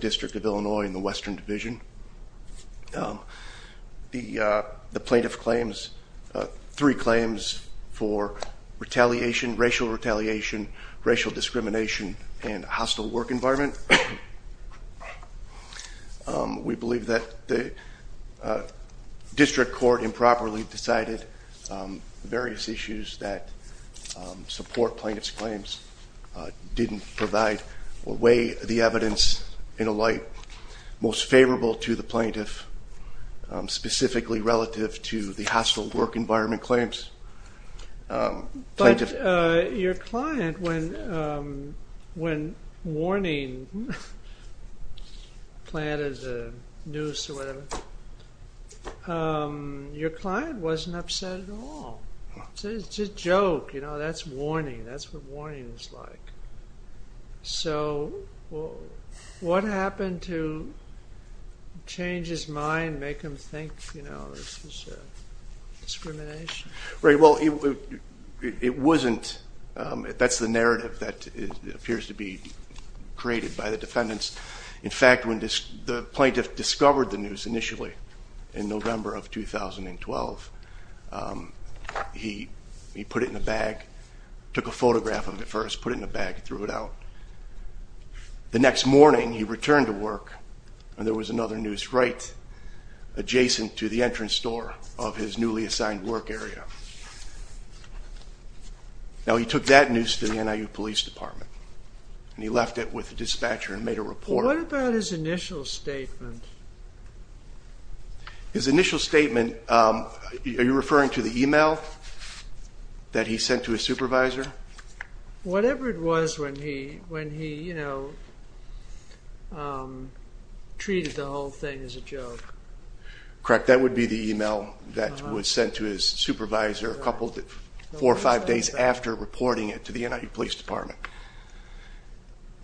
District of Illinois and the Western Division. The plaintiff claims three claims for retaliation, racial retaliation, racial discrimination, and hostile work environment. We believe that the district court improperly decided various issues that support plaintiff's claims, didn't provide or weigh the evidence in a light most favorable to the plaintiff, specifically relative to the hostile work environment claims. But your client, when warning planted the noose or whatever, your client wasn't upset at all. It's a joke, you know, that's warning, that's what warning is like. So what happened to change his mind, make him think, you know, this is discrimination? Right, well, it wasn't, that's the narrative that appears to be created by the defendants. In fact, when the plaintiff discovered the noose initially in November of 2012, he put it in a bag, took a photograph of it first, put it in a bag, threw it out. The next morning he returned to work and there was another noose right adjacent to the entrance door of his newly assigned work area. Now he took that noose to the NIU Police Department and he left it with the dispatcher and made a report. What about his initial statement? His initial statement, are you referring to the email that he sent to his supervisor? Whatever it was when he, you know, treated the whole thing as a joke. Correct, that would be the email that was sent to his supervisor a couple, four or five days after reporting it to the NIU Police Department.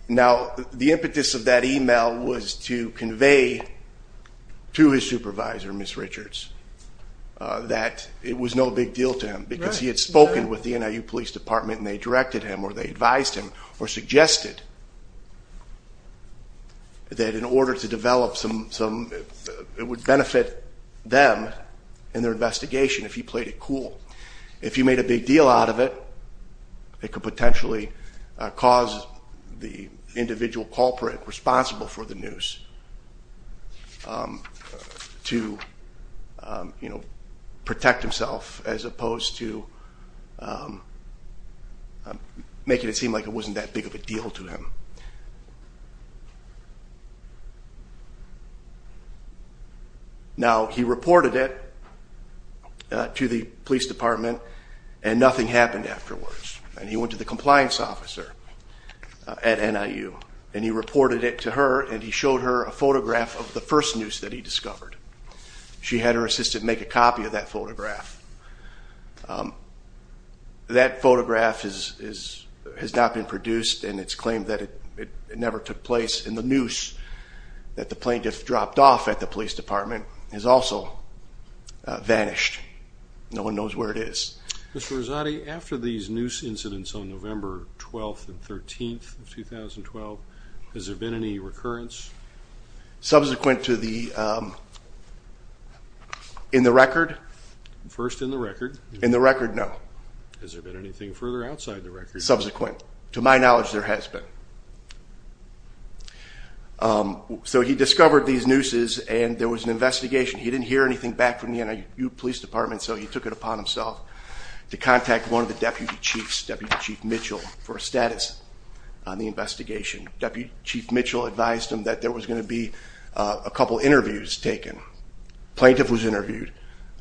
Now the impetus of that email was to convey to his supervisor, Ms. Richards, that it was no big deal to him because he had spoken with the NIU Police Department and they directed him or they advised him or suggested that in order to develop some, it would benefit them in their investigation if he played it cool. If he made a big deal out of it, it could potentially cause the individual culprit responsible for the noose to, you know, protect himself as opposed to making it seem like it wasn't that big of a deal to him. Now he reported it to the police department and nothing happened afterwards and he went to the compliance officer at NIU and he reported it to her and he showed her a photograph of the first noose that he discovered. She had her assistant make a copy of that photograph. That photograph has not been produced and it's claimed that it never took place and the noose that the plaintiff dropped off at the police department has also vanished. No one knows where it is. Mr. Rezati, after these noose incidents on November 12th and 13th of 2012, has there been any recurrence? Subsequent to the, in the record? First in the record. In the record, no. Has there been anything further outside the record? Subsequent. To my knowledge, there has been. So he discovered these nooses and there was an investigation. He didn't hear anything back from the NIU police department so he took it upon himself to contact one of the deputy chiefs, Deputy Chief Mitchell, for a status on the investigation. Deputy Chief Mitchell advised him that there was going to be a couple interviews taken. Plaintiff was interviewed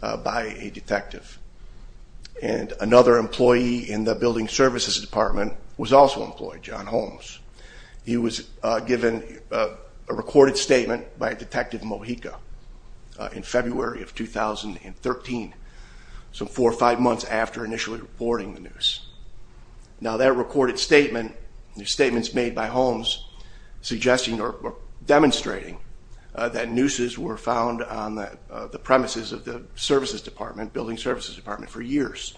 by a detective and another employee in the building services department was also employed, John Holmes. He was given a recorded statement by Detective Mojica in February of 2013, so four or five months after initially reporting the noose. Now that recorded statement, the statements made by Holmes, suggesting or demonstrating that nooses were found on the premises of the services department, building services department, for years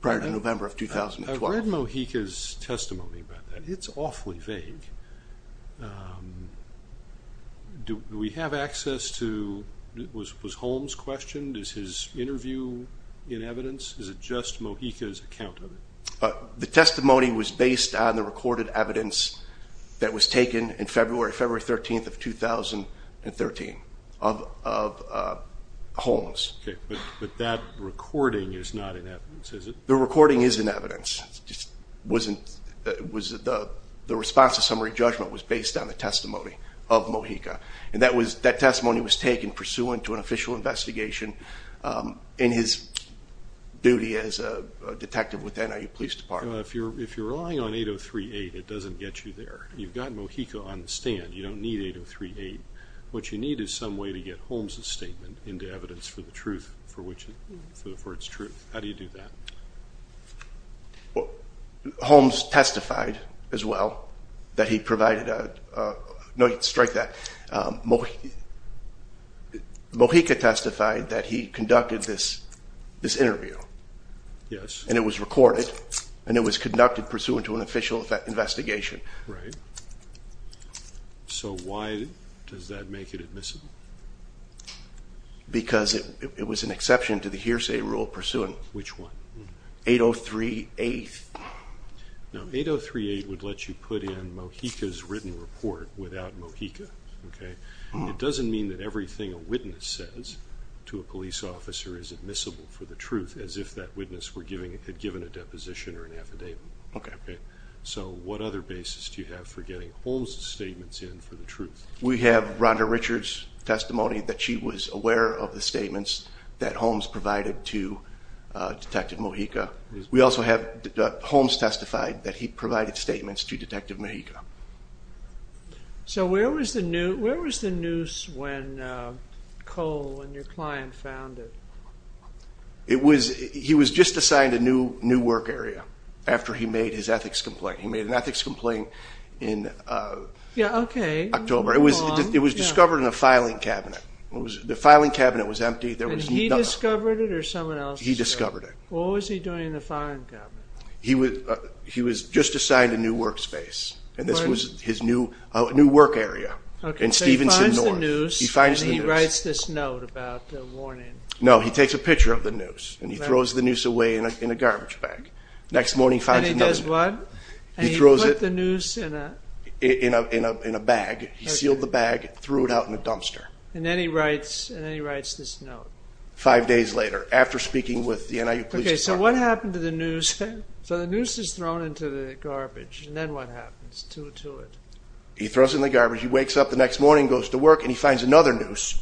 prior to November of 2012. I've read Mojica's testimony about that. It's awfully vague. Do we have access to, was Holmes questioned? Is his interview in evidence? Is it just Mojica's account of it? The testimony was based on the recorded evidence that was taken in February, February 13th of 2013 of Holmes. Okay, but that recording is not in evidence, is it? The recording is in evidence. The response to summary judgment was based on the testimony of Mojica and that testimony was taken pursuant to an official investigation in his duty as a detective with the NIU Police Department. If you're relying on 8038, it doesn't get you there. You've got Mojica on the stand. You don't need 8038. What you need is some way to get Holmes' statement into evidence for the truth, for its truth. How do you do that? Holmes testified as well that he provided, strike that, Mojica testified that he conducted this interview and it was recorded and it was conducted pursuant to an official investigation. Right. So why does that make it admissible? Because it was an exception to the hearsay rule pursuant. Which one? 8038. Now 8038 would let you put in Mojica's written report without Mojica. Okay? It doesn't mean that everything a witness says to a police officer is admissible for the truth as if that witness had given a deposition or an affidavit. Okay. So what other basis do you have for getting Holmes' statements in for the truth? We have Rhonda Richards' testimony that she was aware of the statements that Holmes provided to Detective Mojica. We also have Holmes testified that he provided statements to Detective Mojica. So where was the noose when Cole and your client found it? He was just assigned a new work area after he made his ethics complaint. He made an ethics complaint in October. It was discovered in a filing cabinet. The filing cabinet was empty. And he discovered it or someone else? He discovered it. What was he doing in the filing cabinet? He was just assigned a new work space and this was his new work area in Stevenson North. So he finds the noose and he writes this note about the warning. No, he takes a picture of the noose and he throws the noose away in a garbage bag. And he does what? And he put the noose in a... In a bag. He sealed the bag, threw it out in a dumpster. And then he writes this note. Five days later, after speaking with the NIU police department. Okay, so what happened to the noose? So the noose is thrown into the garbage and then what happens to it? He throws it in the garbage. He wakes up the next morning, goes to work and he finds another noose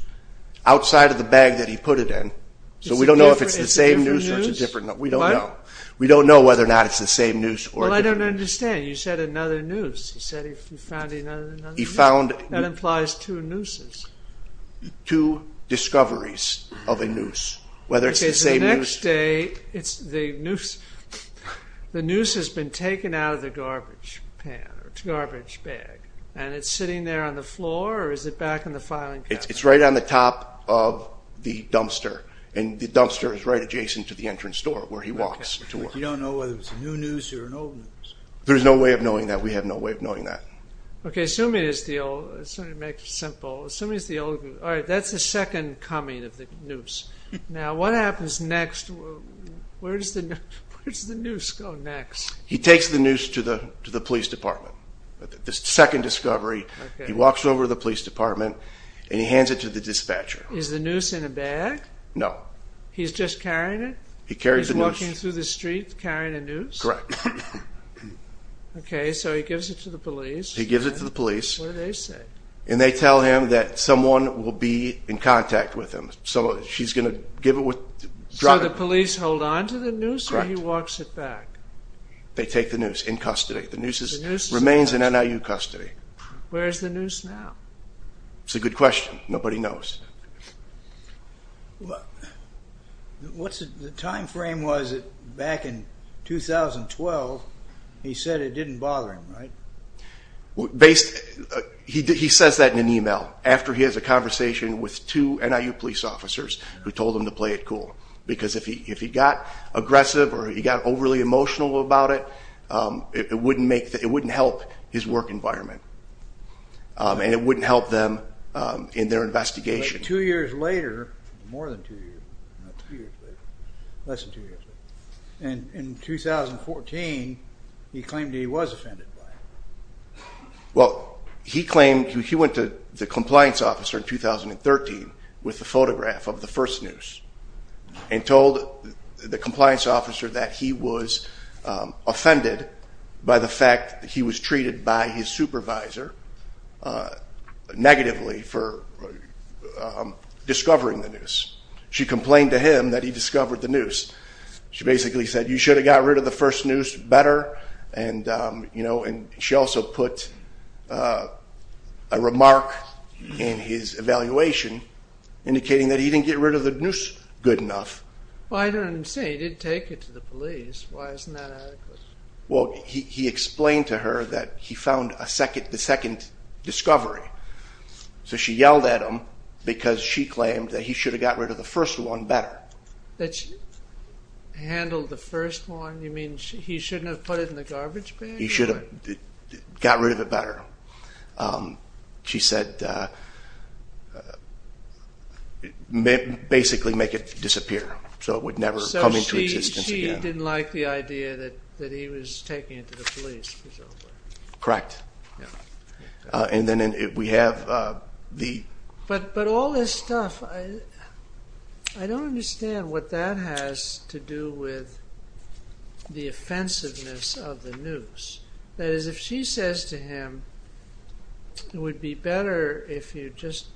outside of the bag that he put it in. So we don't know if it's the same noose or it's a different noose. We don't know. We don't know whether or not it's the same noose or a different noose. Well, I don't understand. You said another noose. You said he found another noose. He found... That implies two nooses. Two discoveries of a noose. Whether it's the same noose... The noose has been taken out of the garbage bag. And it's sitting there on the floor or is it back in the filing cabinet? It's right on the top of the dumpster. And the dumpster is right adjacent to the entrance door where he walks to work. You don't know whether it's a new noose or an old noose. There's no way of knowing that. We have no way of knowing that. Okay, assuming it's the old... Let's make it simple. Assuming it's the old... Alright, that's the second coming of the noose. Now, what happens next? Where does the noose go next? He takes the noose to the police department. The second discovery, he walks over to the police department and he hands it to the dispatcher. Is the noose in a bag? No. He's just carrying it? He carries the noose. He's walking through the street carrying a noose? Correct. Okay, so he gives it to the police. He gives it to the police. What do they say? And they tell him that someone will be in contact with him. So she's going to give it... So the police hold on to the noose or he walks it back? They take the noose in custody. The noose remains in NIU custody. Where is the noose now? It's a good question. Nobody knows. What's the time frame? Was it back in 2012? He said it didn't bother him, right? He says that in an email after he has a conversation with two NIU police officers who told him to play it cool. Because if he got aggressive or he got overly emotional about it, it wouldn't help his work environment. And it wouldn't help them in their investigation. Two years later, more than two years, less than two years later, And in 2014, he claimed he was offended by it. Well, he went to the compliance officer in 2013 with a photograph of the first noose and told the compliance officer that he was offended by the fact that he was treated by his supervisor negatively for discovering the noose. She complained to him that he discovered the noose. She basically said, you should have got rid of the first noose better. And she also put a remark in his evaluation indicating that he didn't get rid of the noose good enough. Well, I don't understand. He did take it to the police. Why isn't that adequate? Well, he explained to her that he found the second discovery. So she yelled at him because she claimed that he should have got rid of the first one better. Handle the first one? You mean he shouldn't have put it in the garbage bag? He should have got rid of it better. She said, basically make it disappear so it would never come into existence again. So she didn't like the idea that he was taking it to the police. Correct. And then we have the... But all this stuff, I don't understand what that has to do with the offensiveness of the noose. That is, if she says to him, it would be better if you just,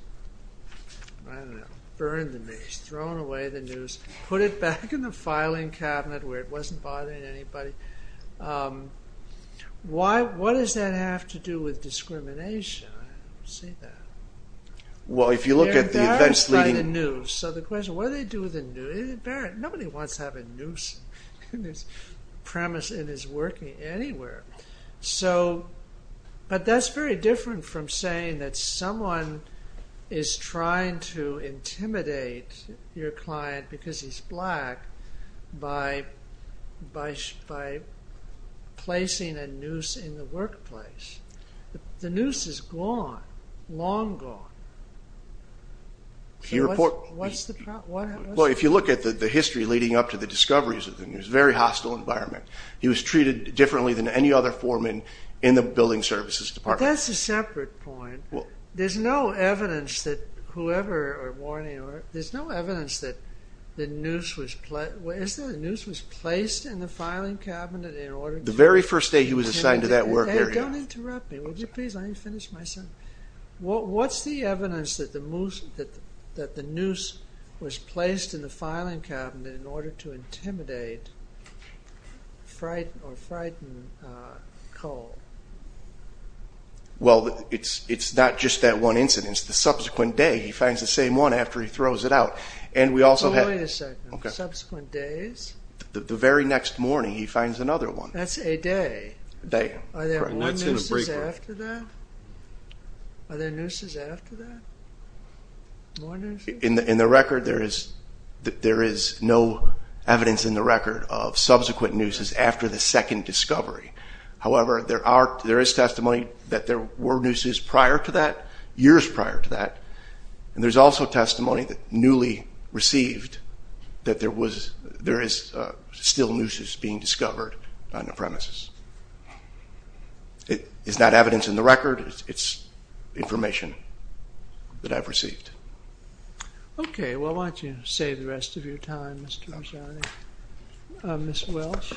I don't know, burned the noose, thrown away the noose, put it back in the filing cabinet where it wasn't bothering anybody. What does that have to do with discrimination? I don't see that. Well, if you look at the events leading... They're embarrassed by the noose. So the question, what do they do with the noose? Nobody wants to have a noose premise in his working anywhere. But that's very different from saying that someone is trying to intimidate your client because he's black by placing a noose in the workplace. The noose is gone, long gone. So what's the problem? Well, if you look at the history leading up to the discoveries of the noose, very hostile environment. He was treated differently than any other foreman in the building services department. But that's a separate point. There's no evidence that whoever... There's no evidence that the noose was placed in the filing cabinet in order to... The very first day he was assigned to that work area. Don't interrupt me. Would you please let me finish my sentence? What's the evidence that the noose was placed in the filing cabinet in order to intimidate or frighten Cole? Well, it's not just that one incident. The subsequent day, he finds the same one after he throws it out. And we also have... Wait a second. Subsequent days? The very next morning, he finds another one. That's a day. A day. Are there more nooses after that? Are there nooses after that? More nooses? In the record, there is no evidence in the record of subsequent nooses after the second discovery. However, there is testimony that there were nooses prior to that, years prior to that. And there's also testimony that newly received that there is still nooses being discovered on the premises. It's not evidence in the record. It's information that I've received. Okay. Well, why don't you save the rest of your time, Mr. Bresciani. Ms. Welsh?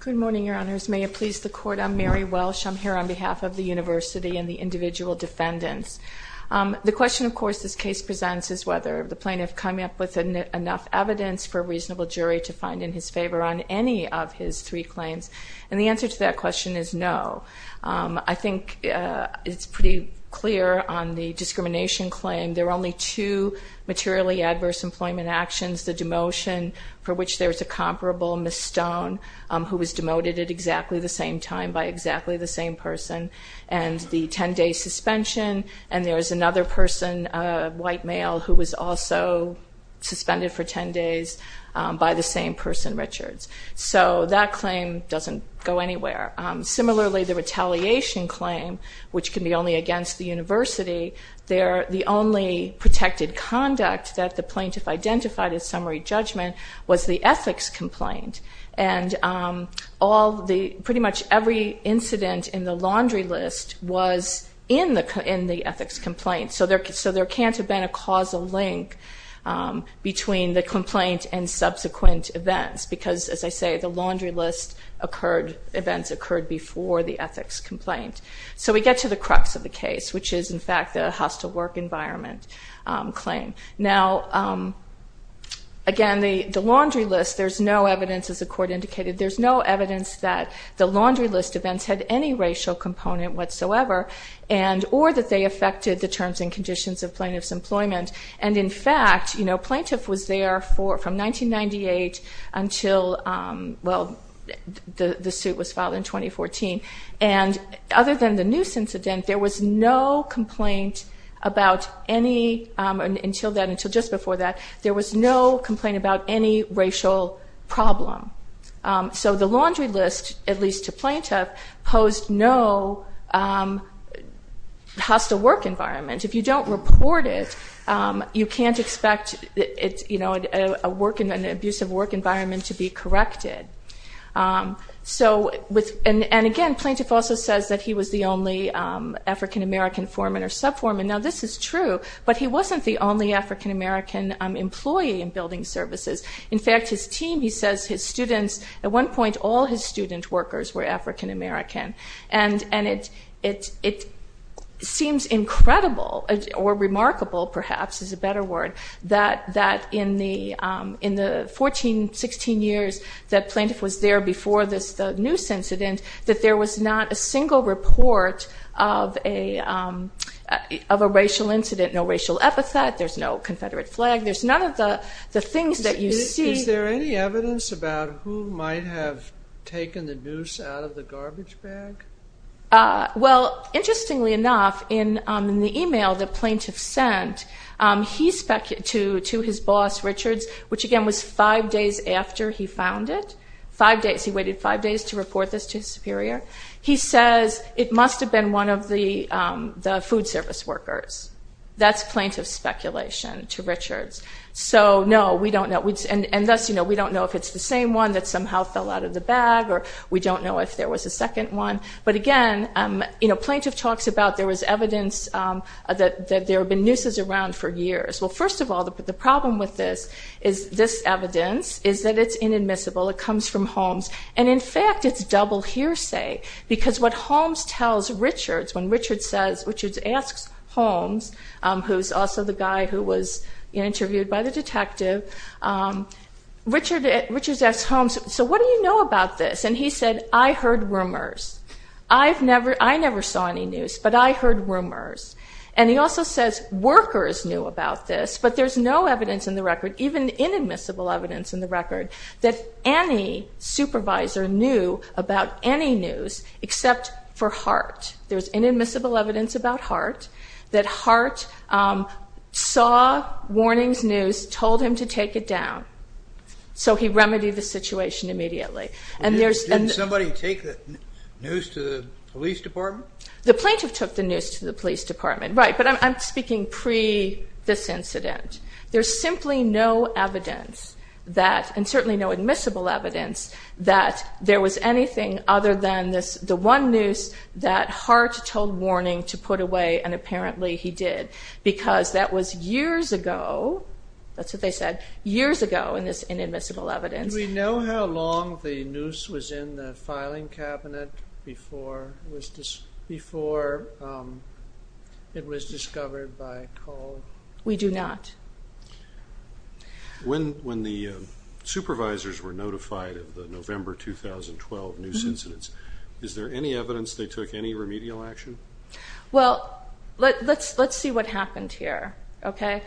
Good morning, Your Honors. May it please the Court, I'm Mary Welsh. I'm here on behalf of the university and the individual defendants. The question, of course, this case presents is whether the plaintiff come up with enough evidence for a reasonable jury to find in his favor on any of his three claims. And the answer to that question is no. I think it's pretty clear on the discrimination claim, there are only two materially adverse employment actions, the demotion for which there is a comparable, Ms. Stone, who was demoted at exactly the same time by exactly the same person, and the 10-day suspension. And there is another person, a white male, who was also suspended for 10 days by the same person, Richards. So that claim doesn't go anywhere. Similarly, the retaliation claim, which can be only against the university, the only protected conduct that the plaintiff identified as summary judgment was the ethics complaint. And pretty much every incident in the laundry list was in the ethics complaint. So there can't have been a causal link between the complaint and subsequent events. Because, as I say, the laundry list events occurred before the ethics complaint. So we get to the crux of the case, which is, in fact, the hostile work environment claim. Now, again, the laundry list, there's no evidence, as the court indicated, there's no evidence that the laundry list events had any racial component whatsoever, or that they affected the terms and conditions of plaintiff's employment. And, in fact, plaintiff was there from 1998 until, well, the suit was filed in 2014. And other than the noose incident, there was no complaint about any, until just before that, there was no complaint about any racial problem. So the laundry list, at least to plaintiff, posed no hostile work environment. If you don't report it, you can't expect an abusive work environment to be corrected. And, again, plaintiff also says that he was the only African-American foreman or sub-foreman. Now, this is true, but he wasn't the only African-American employee in building services. In fact, his team, he says, his students, at one point, all his student workers were African-American. And it seems incredible, or remarkable, perhaps is a better word, that in the 14, 16 years that plaintiff was there before this noose incident, that there was not a single report of a racial incident, no racial epithet, there's no Confederate flag, there's none of the things that you see. Is there any evidence about who might have taken the noose out of the garbage bag? Well, interestingly enough, in the email the plaintiff sent to his boss, Richards, which, again, was five days after he found it, five days, he waited five days to report this to his superior, he says it must have been one of the food service workers. That's plaintiff's speculation to Richards. So, no, we don't know. And thus, we don't know if it's the same one that somehow fell out of the bag, or we don't know if there was a second one. But, again, plaintiff talks about there was evidence that there have been nooses around for years. Well, first of all, the problem with this evidence is that it's inadmissible. It comes from Holmes. And, in fact, it's double hearsay, because what Holmes tells Richards, when Richards asks Holmes, who's also the guy who was interviewed by the detective, Richards asks Holmes, so what do you know about this? And he said, I heard rumors. I never saw any noose, but I heard rumors. And he also says workers knew about this, but there's no evidence in the record, even inadmissible evidence in the record, that any supervisor knew about any noose except for Hart. There's inadmissible evidence about Hart, that Hart saw warnings noose, told him to take it down, so he remedied the situation immediately. And there's... Didn't somebody take the noose to the police department? The plaintiff took the noose to the police department, right. But I'm speaking pre this incident. There's simply no evidence that, and certainly no admissible evidence, that there was anything other than the one noose that Hart told Warning to put away, and apparently he did, because that was years ago, that's what they said, years ago in this inadmissible evidence. Do we know how long the noose was in the filing cabinet before it was discovered by Cole? We do not. When the supervisors were notified of the November 2012 noose incidents, is there any evidence they took any remedial action? Well, let's see what happened here, okay.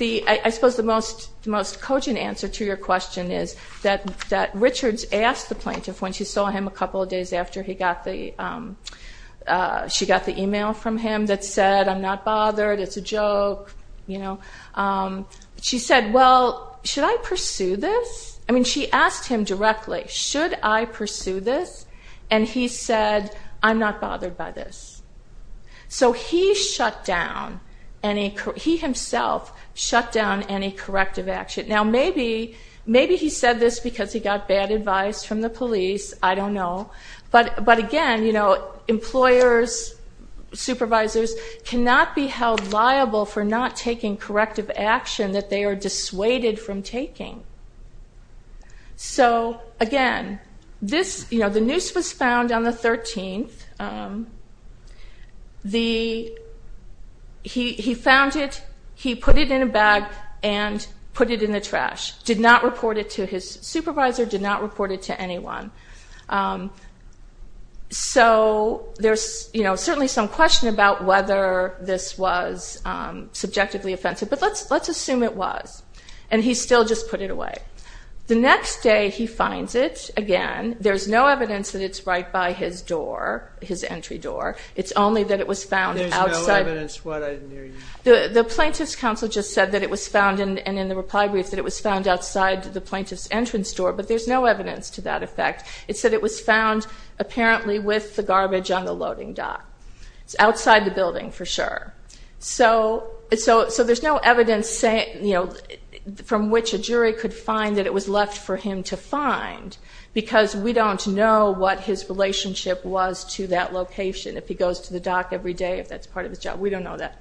I suppose the most cogent answer to your question is that Richards asked the plaintiff when she saw him a couple of days after she got the e-mail from him that said, I'm not bothered, it's a joke, you know, she said, well, should I pursue this? I mean, she asked him directly, should I pursue this? And he said, I'm not bothered by this. So he shut down any, he himself shut down any corrective action. Now, maybe he said this because he got bad advice from the police, I don't know. But, again, you know, employers, supervisors cannot be held liable for not taking corrective action that they are dissuaded from taking. So, again, this, you know, the noose was found on the 13th. He found it, he put it in a bag and put it in the trash. Did not report it to his supervisor, did not report it to anyone. So there's, you know, certainly some question about whether this was subjectively offensive. But let's assume it was. And he still just put it away. The next day he finds it again. There's no evidence that it's right by his door, his entry door. It's only that it was found outside. There's no evidence what, I didn't hear you. The plaintiff's counsel just said that it was found, and in the reply brief, that it was found outside the plaintiff's entrance door. But there's no evidence to that effect. It said it was found apparently with the garbage on the loading dock. It's outside the building for sure. So there's no evidence, you know, from which a jury could find that it was left for him to find because we don't know what his relationship was to that location. If he goes to the dock every day, if that's part of his job. We don't know that.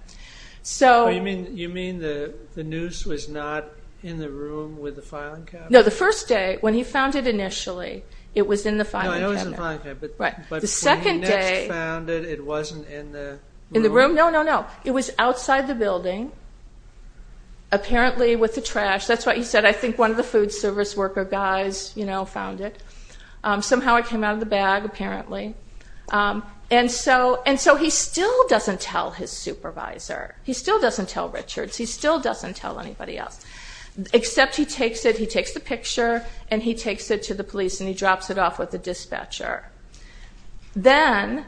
You mean the noose was not in the room with the filing cabinet? No, the first day, when he found it initially, it was in the filing cabinet. No, I know it was in the filing cabinet. But when he next found it, it wasn't in the room? In the room? No, no, no. It was outside the building, apparently with the trash. That's what he said. I think one of the food service worker guys, you know, found it. Somehow it came out of the bag, apparently. And so he still doesn't tell his supervisor. He still doesn't tell Richards. He still doesn't tell anybody else. Except he takes it, he takes the picture, and he takes it to the police and he drops it off with the dispatcher. Then,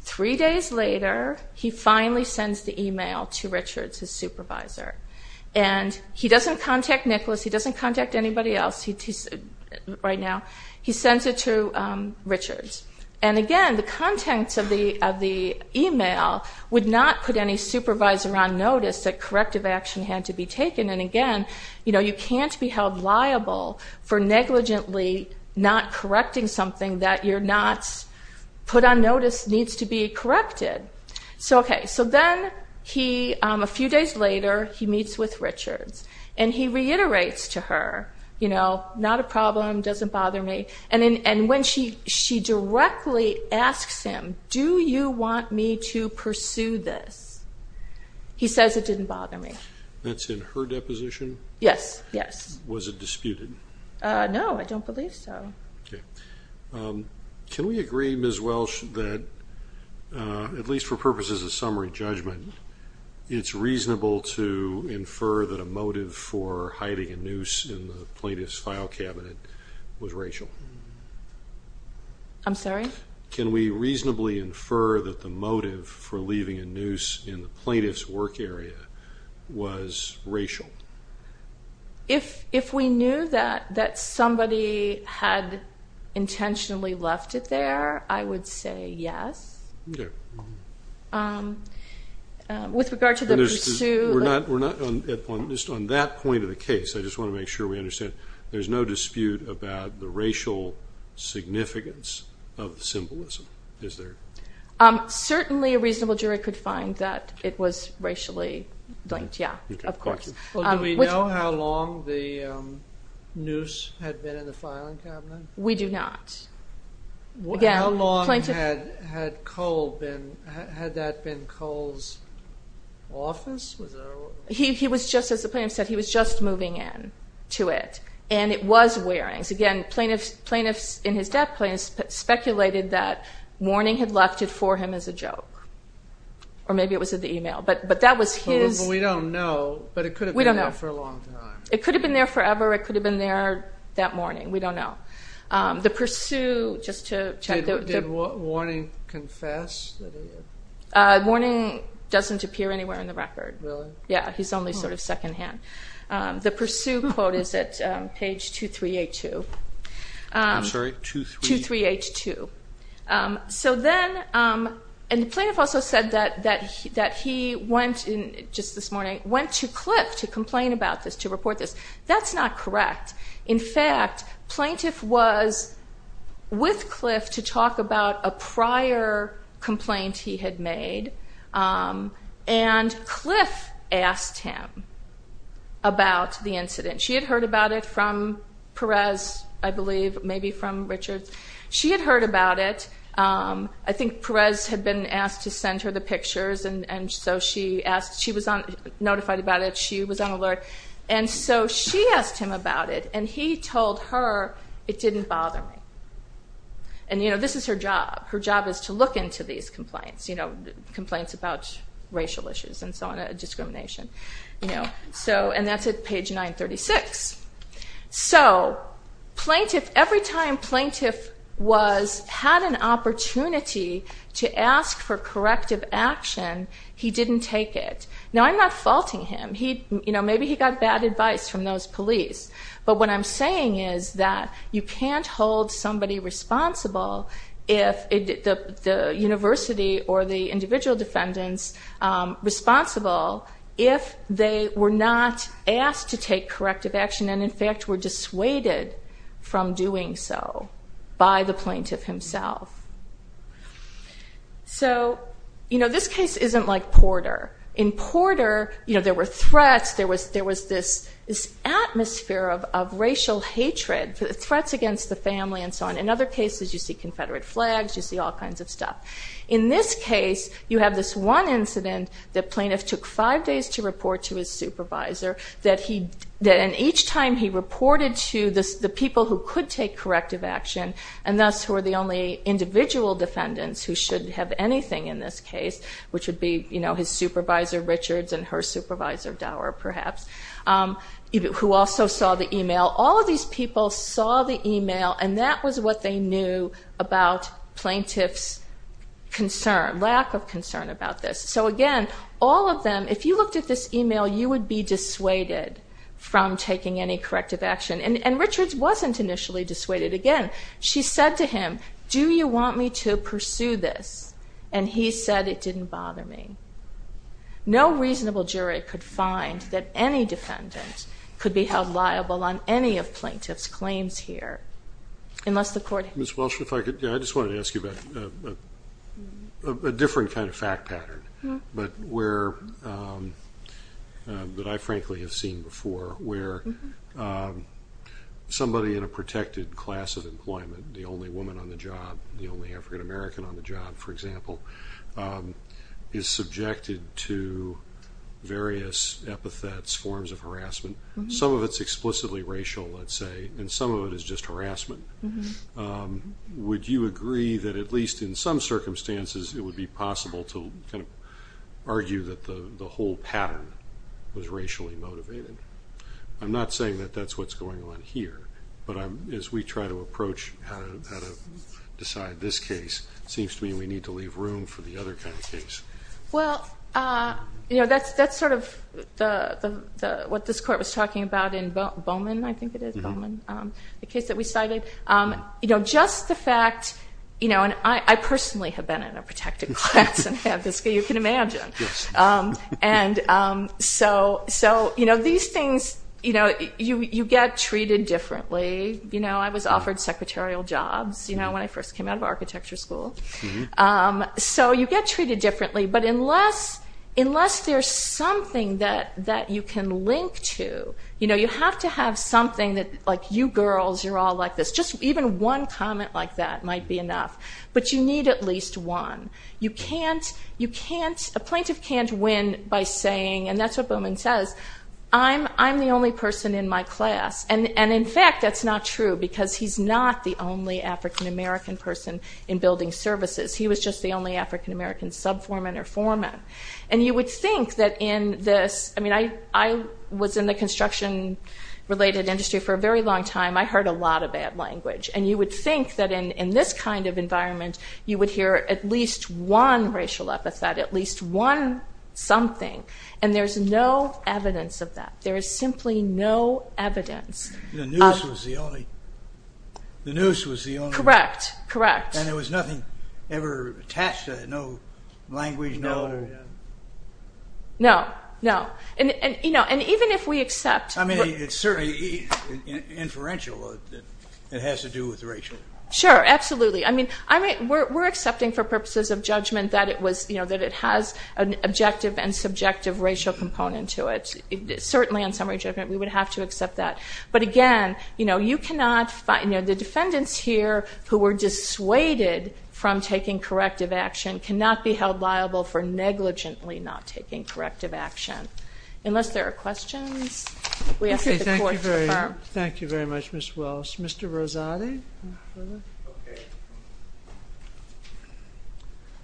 three days later, he finally sends the email to Richards, his supervisor. And he doesn't contact Nicholas. He doesn't contact anybody else right now. He sends it to Richards. And, again, the contents of the email would not put any supervisor on notice that corrective action had to be taken. And, again, you know, you can't be held liable for negligently not correcting something that you're not put on notice needs to be corrected. So, okay, so then, a few days later, he meets with Richards. And he reiterates to her, you know, it's not a problem, doesn't bother me. And when she directly asks him, do you want me to pursue this, he says it didn't bother me. That's in her deposition? Yes, yes. Was it disputed? No, I don't believe so. Okay. Can we agree, Ms. Welsh, that, at least for purposes of summary judgment, it's reasonable to infer that a motive for hiding a noose in the plaintiff's file cabinet was racial? I'm sorry? Can we reasonably infer that the motive for leaving a noose in the plaintiff's work area was racial? If we knew that somebody had intentionally left it there, I would say yes. Okay. With regard to the pursuit. We're not just on that point of the case. I just want to make sure we understand. There's no dispute about the racial significance of the symbolism, is there? Certainly a reasonable jury could find that it was racially linked, yeah, of course. Well, do we know how long the noose had been in the filing cabinet? We do not. How long had that been Cole's office? He was just, as the plaintiff said, he was just moving in to it, and it was Waring's. Again, plaintiffs, and his dad's plaintiffs, speculated that Warning had left it for him as a joke, or maybe it was in the e-mail, but that was his. We don't know, but it could have been there for a long time. It could have been there forever. It could have been there that morning. We don't know. The pursuit, just to check. Did Warning confess? Warning doesn't appear anywhere in the record. Really? Yeah, he's only sort of secondhand. The pursuit quote is at page 2382. I'm sorry, 23? 2382. So then, and the plaintiff also said that he went, just this morning, went to Cliff to complain about this, to report this. That's not correct. In fact, plaintiff was with Cliff to talk about a prior complaint he had made, and Cliff asked him about the incident. She had heard about it from Perez, I believe, maybe from Richards. She had heard about it. I think Perez had been asked to send her the pictures, and so she was notified about it. She was on alert. And so she asked him about it, and he told her it didn't bother me. And, you know, this is her job. Her job is to look into these complaints, you know, complaints about racial issues and so on, discrimination. And that's at page 936. So every time plaintiff had an opportunity to ask for corrective action, he didn't take it. Now, I'm not faulting him. Maybe he got bad advice from those police. But what I'm saying is that you can't hold somebody responsible, the university or the individual defendants responsible, if they were not asked to take corrective action and, in fact, were dissuaded from doing so by the plaintiff himself. In Porter, you know, there were threats. There was this atmosphere of racial hatred, threats against the family and so on. In other cases, you see Confederate flags. You see all kinds of stuff. In this case, you have this one incident that plaintiff took five days to report to his supervisor, and each time he reported to the people who could take corrective action and thus were the only individual defendants who should have anything in this case, which would be his supervisor Richards and her supervisor Dower, perhaps, who also saw the email. All of these people saw the email, and that was what they knew about plaintiff's concern, lack of concern about this. So, again, all of them, if you looked at this email, you would be dissuaded from taking any corrective action. And Richards wasn't initially dissuaded. Again, she said to him, do you want me to pursue this? And he said, it didn't bother me. No reasonable jury could find that any defendant could be held liable on any of plaintiff's claims here unless the court had. Ms. Walsh, if I could, I just wanted to ask you about a different kind of fact pattern, but where I frankly have seen before where somebody in a protected class of employment, the only woman on the job, the only African American on the job, for example, is subjected to various epithets, forms of harassment. Some of it's explicitly racial, let's say, and some of it is just harassment. Would you agree that at least in some circumstances it would be possible to kind of argue that the whole pattern was racially motivated? I'm not saying that that's what's going on here, but as we try to approach how to decide this case, it seems to me we need to leave room for the other kind of case. Well, that's sort of what this court was talking about in Bowman, I think it is, Bowman, the case that we cited. You know, just the fact, you know, and I personally have been in a protected class and have this, you can imagine. And so, you know, these things, you know, you get treated differently. You know, I was offered secretarial jobs, you know, when I first came out of architecture school. So you get treated differently. But unless there's something that you can link to, you know, you have to have something that, like, you girls, you're all like this, just even one comment like that might be enough. But you need at least one. You can't, you can't, a plaintiff can't win by saying, and that's what Bowman says, I'm the only person in my class. And in fact, that's not true, because he's not the only African-American person in building services. He was just the only African-American sub-foreman or foreman. And you would think that in this, I mean, I was in the construction-related industry for a very long time. I heard a lot of bad language. And you would think that in this kind of environment, you would hear at least one racial epithet, at least one something. And there's no evidence of that. There is simply no evidence. The noose was the only, the noose was the only. Correct, correct. And there was nothing ever attached to it, no language, no. No, no. And, you know, and even if we accept. I mean, it's certainly inferential. It has to do with racial. Sure, absolutely. I mean, we're accepting for purposes of judgment that it was, you know, that it has an objective and subjective racial component to it. Certainly in summary judgment, we would have to accept that. But, again, you know, you cannot find, you know, the defendants here who were dissuaded from taking corrective action cannot be held liable for negligently not taking corrective action. Unless there are questions. We ask that the court confirm. Okay, thank you very much, Ms. Wells. Mr. Rosati? Okay.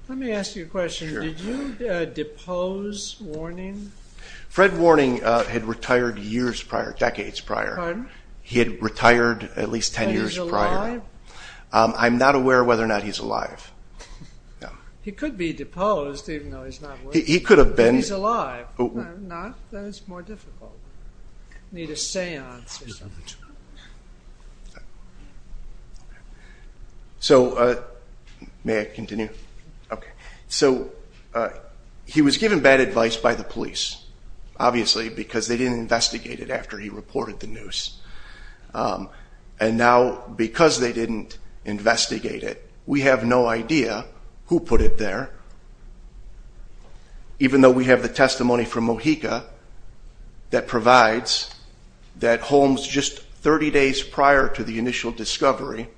Let me ask you a question. Sure. Did you depose Warning? Fred Warning had retired years prior, decades prior. He had retired at least 10 years prior. And he's alive? I'm not aware whether or not he's alive. He could be deposed even though he's not working. He could have been. But he's alive. No, he's not. That is more difficult. I need a seance or something. So may I continue? Okay. So he was given bad advice by the police, obviously, because they didn't investigate it after he reported the news. And now because they didn't investigate it, we have no idea who put it there, even though we have the testimony from Mojica that provides that Holmes, just 30 days prior to the initial discovery,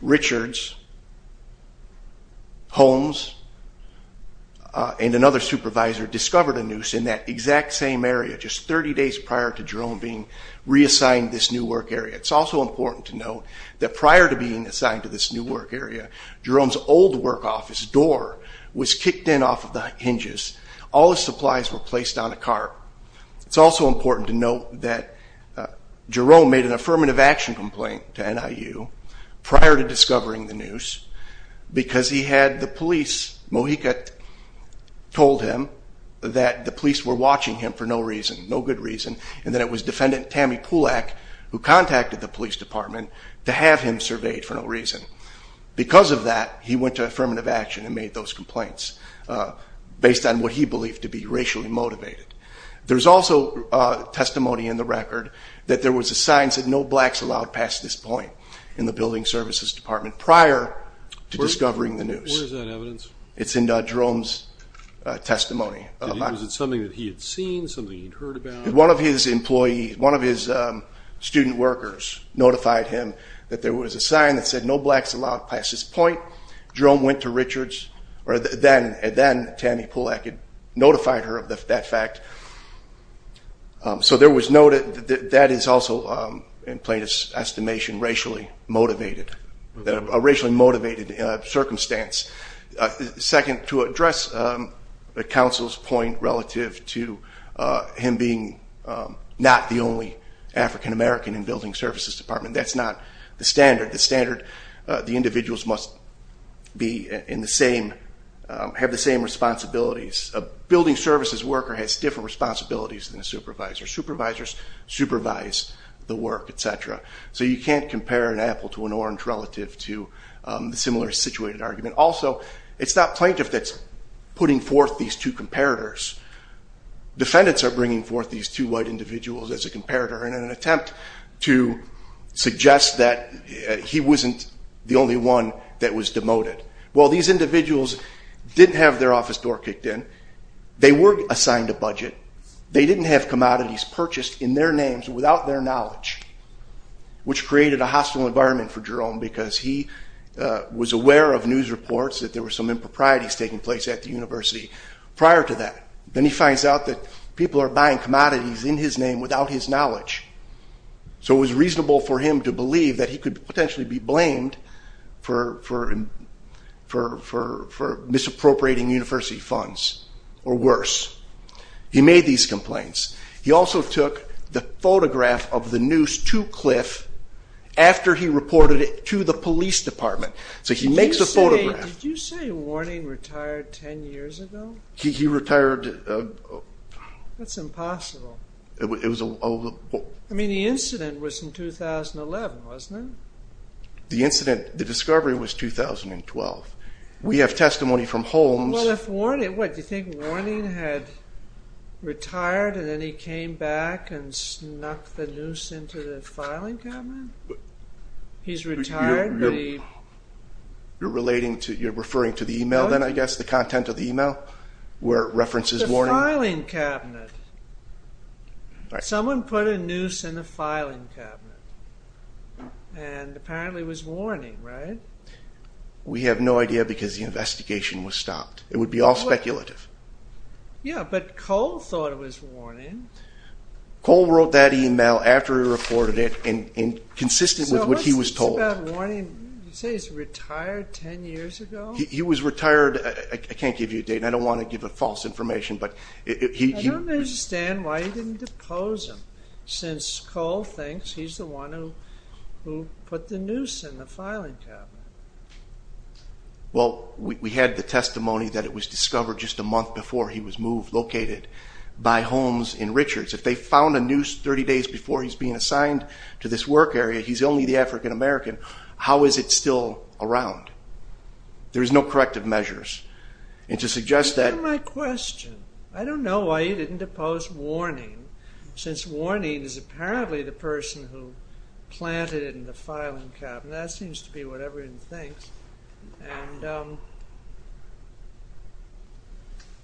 Richards, Holmes, and another supervisor discovered a noose in that exact same area, just 30 days prior to Jerome being reassigned to this new work area. It's also important to note that prior to being assigned to this new work was kicked in off of the hinges. All his supplies were placed on a cart. It's also important to note that Jerome made an affirmative action complaint to NIU prior to discovering the noose because he had the police, Mojica told him, that the police were watching him for no reason, no good reason, and that it was Defendant Tammy Pulak who contacted the police department to have him surveyed for no reason. Because of that, he went to affirmative action and made those complaints based on what he believed to be racially motivated. There's also testimony in the record that there was a sign that said no blacks allowed past this point in the building services department prior to discovering the noose. Where is that evidence? It's in Jerome's testimony. Was it something that he had seen, something he'd heard about? One of his student workers notified him that there was a sign that said no blacks allowed past this point. Jerome went to Richards, and then Tammy Pulak had notified her of that fact. So that is also, in plain estimation, racially motivated, a racially motivated circumstance. Second, to address the counsel's point relative to him being not the only African-American in building services department, that's not the standard. The individuals must have the same responsibilities. A building services worker has different responsibilities than a supervisor. Supervisors supervise the work, et cetera. So you can't compare an apple to an orange relative to the similar situated argument. Also, it's not plaintiff that's putting forth these two comparators. Defendants are bringing forth these two white individuals as a comparator in an attempt to suggest that he wasn't the only one that was demoted. Well, these individuals didn't have their office door kicked in. They were assigned a budget. They didn't have commodities purchased in their names without their knowledge, which created a hostile environment for Jerome because he was aware of news reports that there were some improprieties taking place at the university prior to that. Then he finds out that people are buying commodities in his name without his knowledge. So it was reasonable for him to believe that he could potentially be blamed for misappropriating university funds or worse. He made these complaints. He also took the photograph of the noose to Cliff after he reported it to the police department. So he makes a photograph. Did you say Warning retired 10 years ago? He retired. That's impossible. I mean, the incident was in 2011, wasn't it? The incident, the discovery was 2012. We have testimony from Holmes. What, do you think Warning had retired and then he came back and snuck the noose into the filing cabinet? He's retired, but he... You're referring to the email then, I guess, the content of the email where it references Warning? It's the filing cabinet. Someone put a noose in the filing cabinet and apparently it was Warning, right? We have no idea because the investigation was stopped. It would be all speculative. Yeah, but Cole thought it was Warning. Cole wrote that email after he reported it and consistent with what he was told. What about Warning? You say he's retired 10 years ago? He was retired. I can't give you a date and I don't want to give a false information, but he... I don't understand why he didn't depose him since Cole thinks he's the one who put the noose in the filing cabinet. Well, we had the testimony that it was discovered just a month before he was moved, located by Holmes in Richards. If they found a noose 30 days before he's being assigned to this work area, he's only the African-American, how is it still around? There's no corrective measures. And to suggest that... Answer my question. I don't know why he didn't depose Warning since Warning is apparently the person who planted it in the filing cabinet. That seems to be what everyone thinks.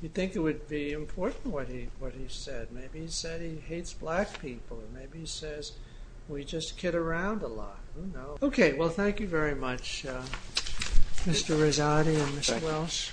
You'd think it would be important what he said. Maybe he said he hates black people. Maybe he says we just kid around a lot. Okay. Well, thank you very much, Mr. Rezati and Ms. Welsh.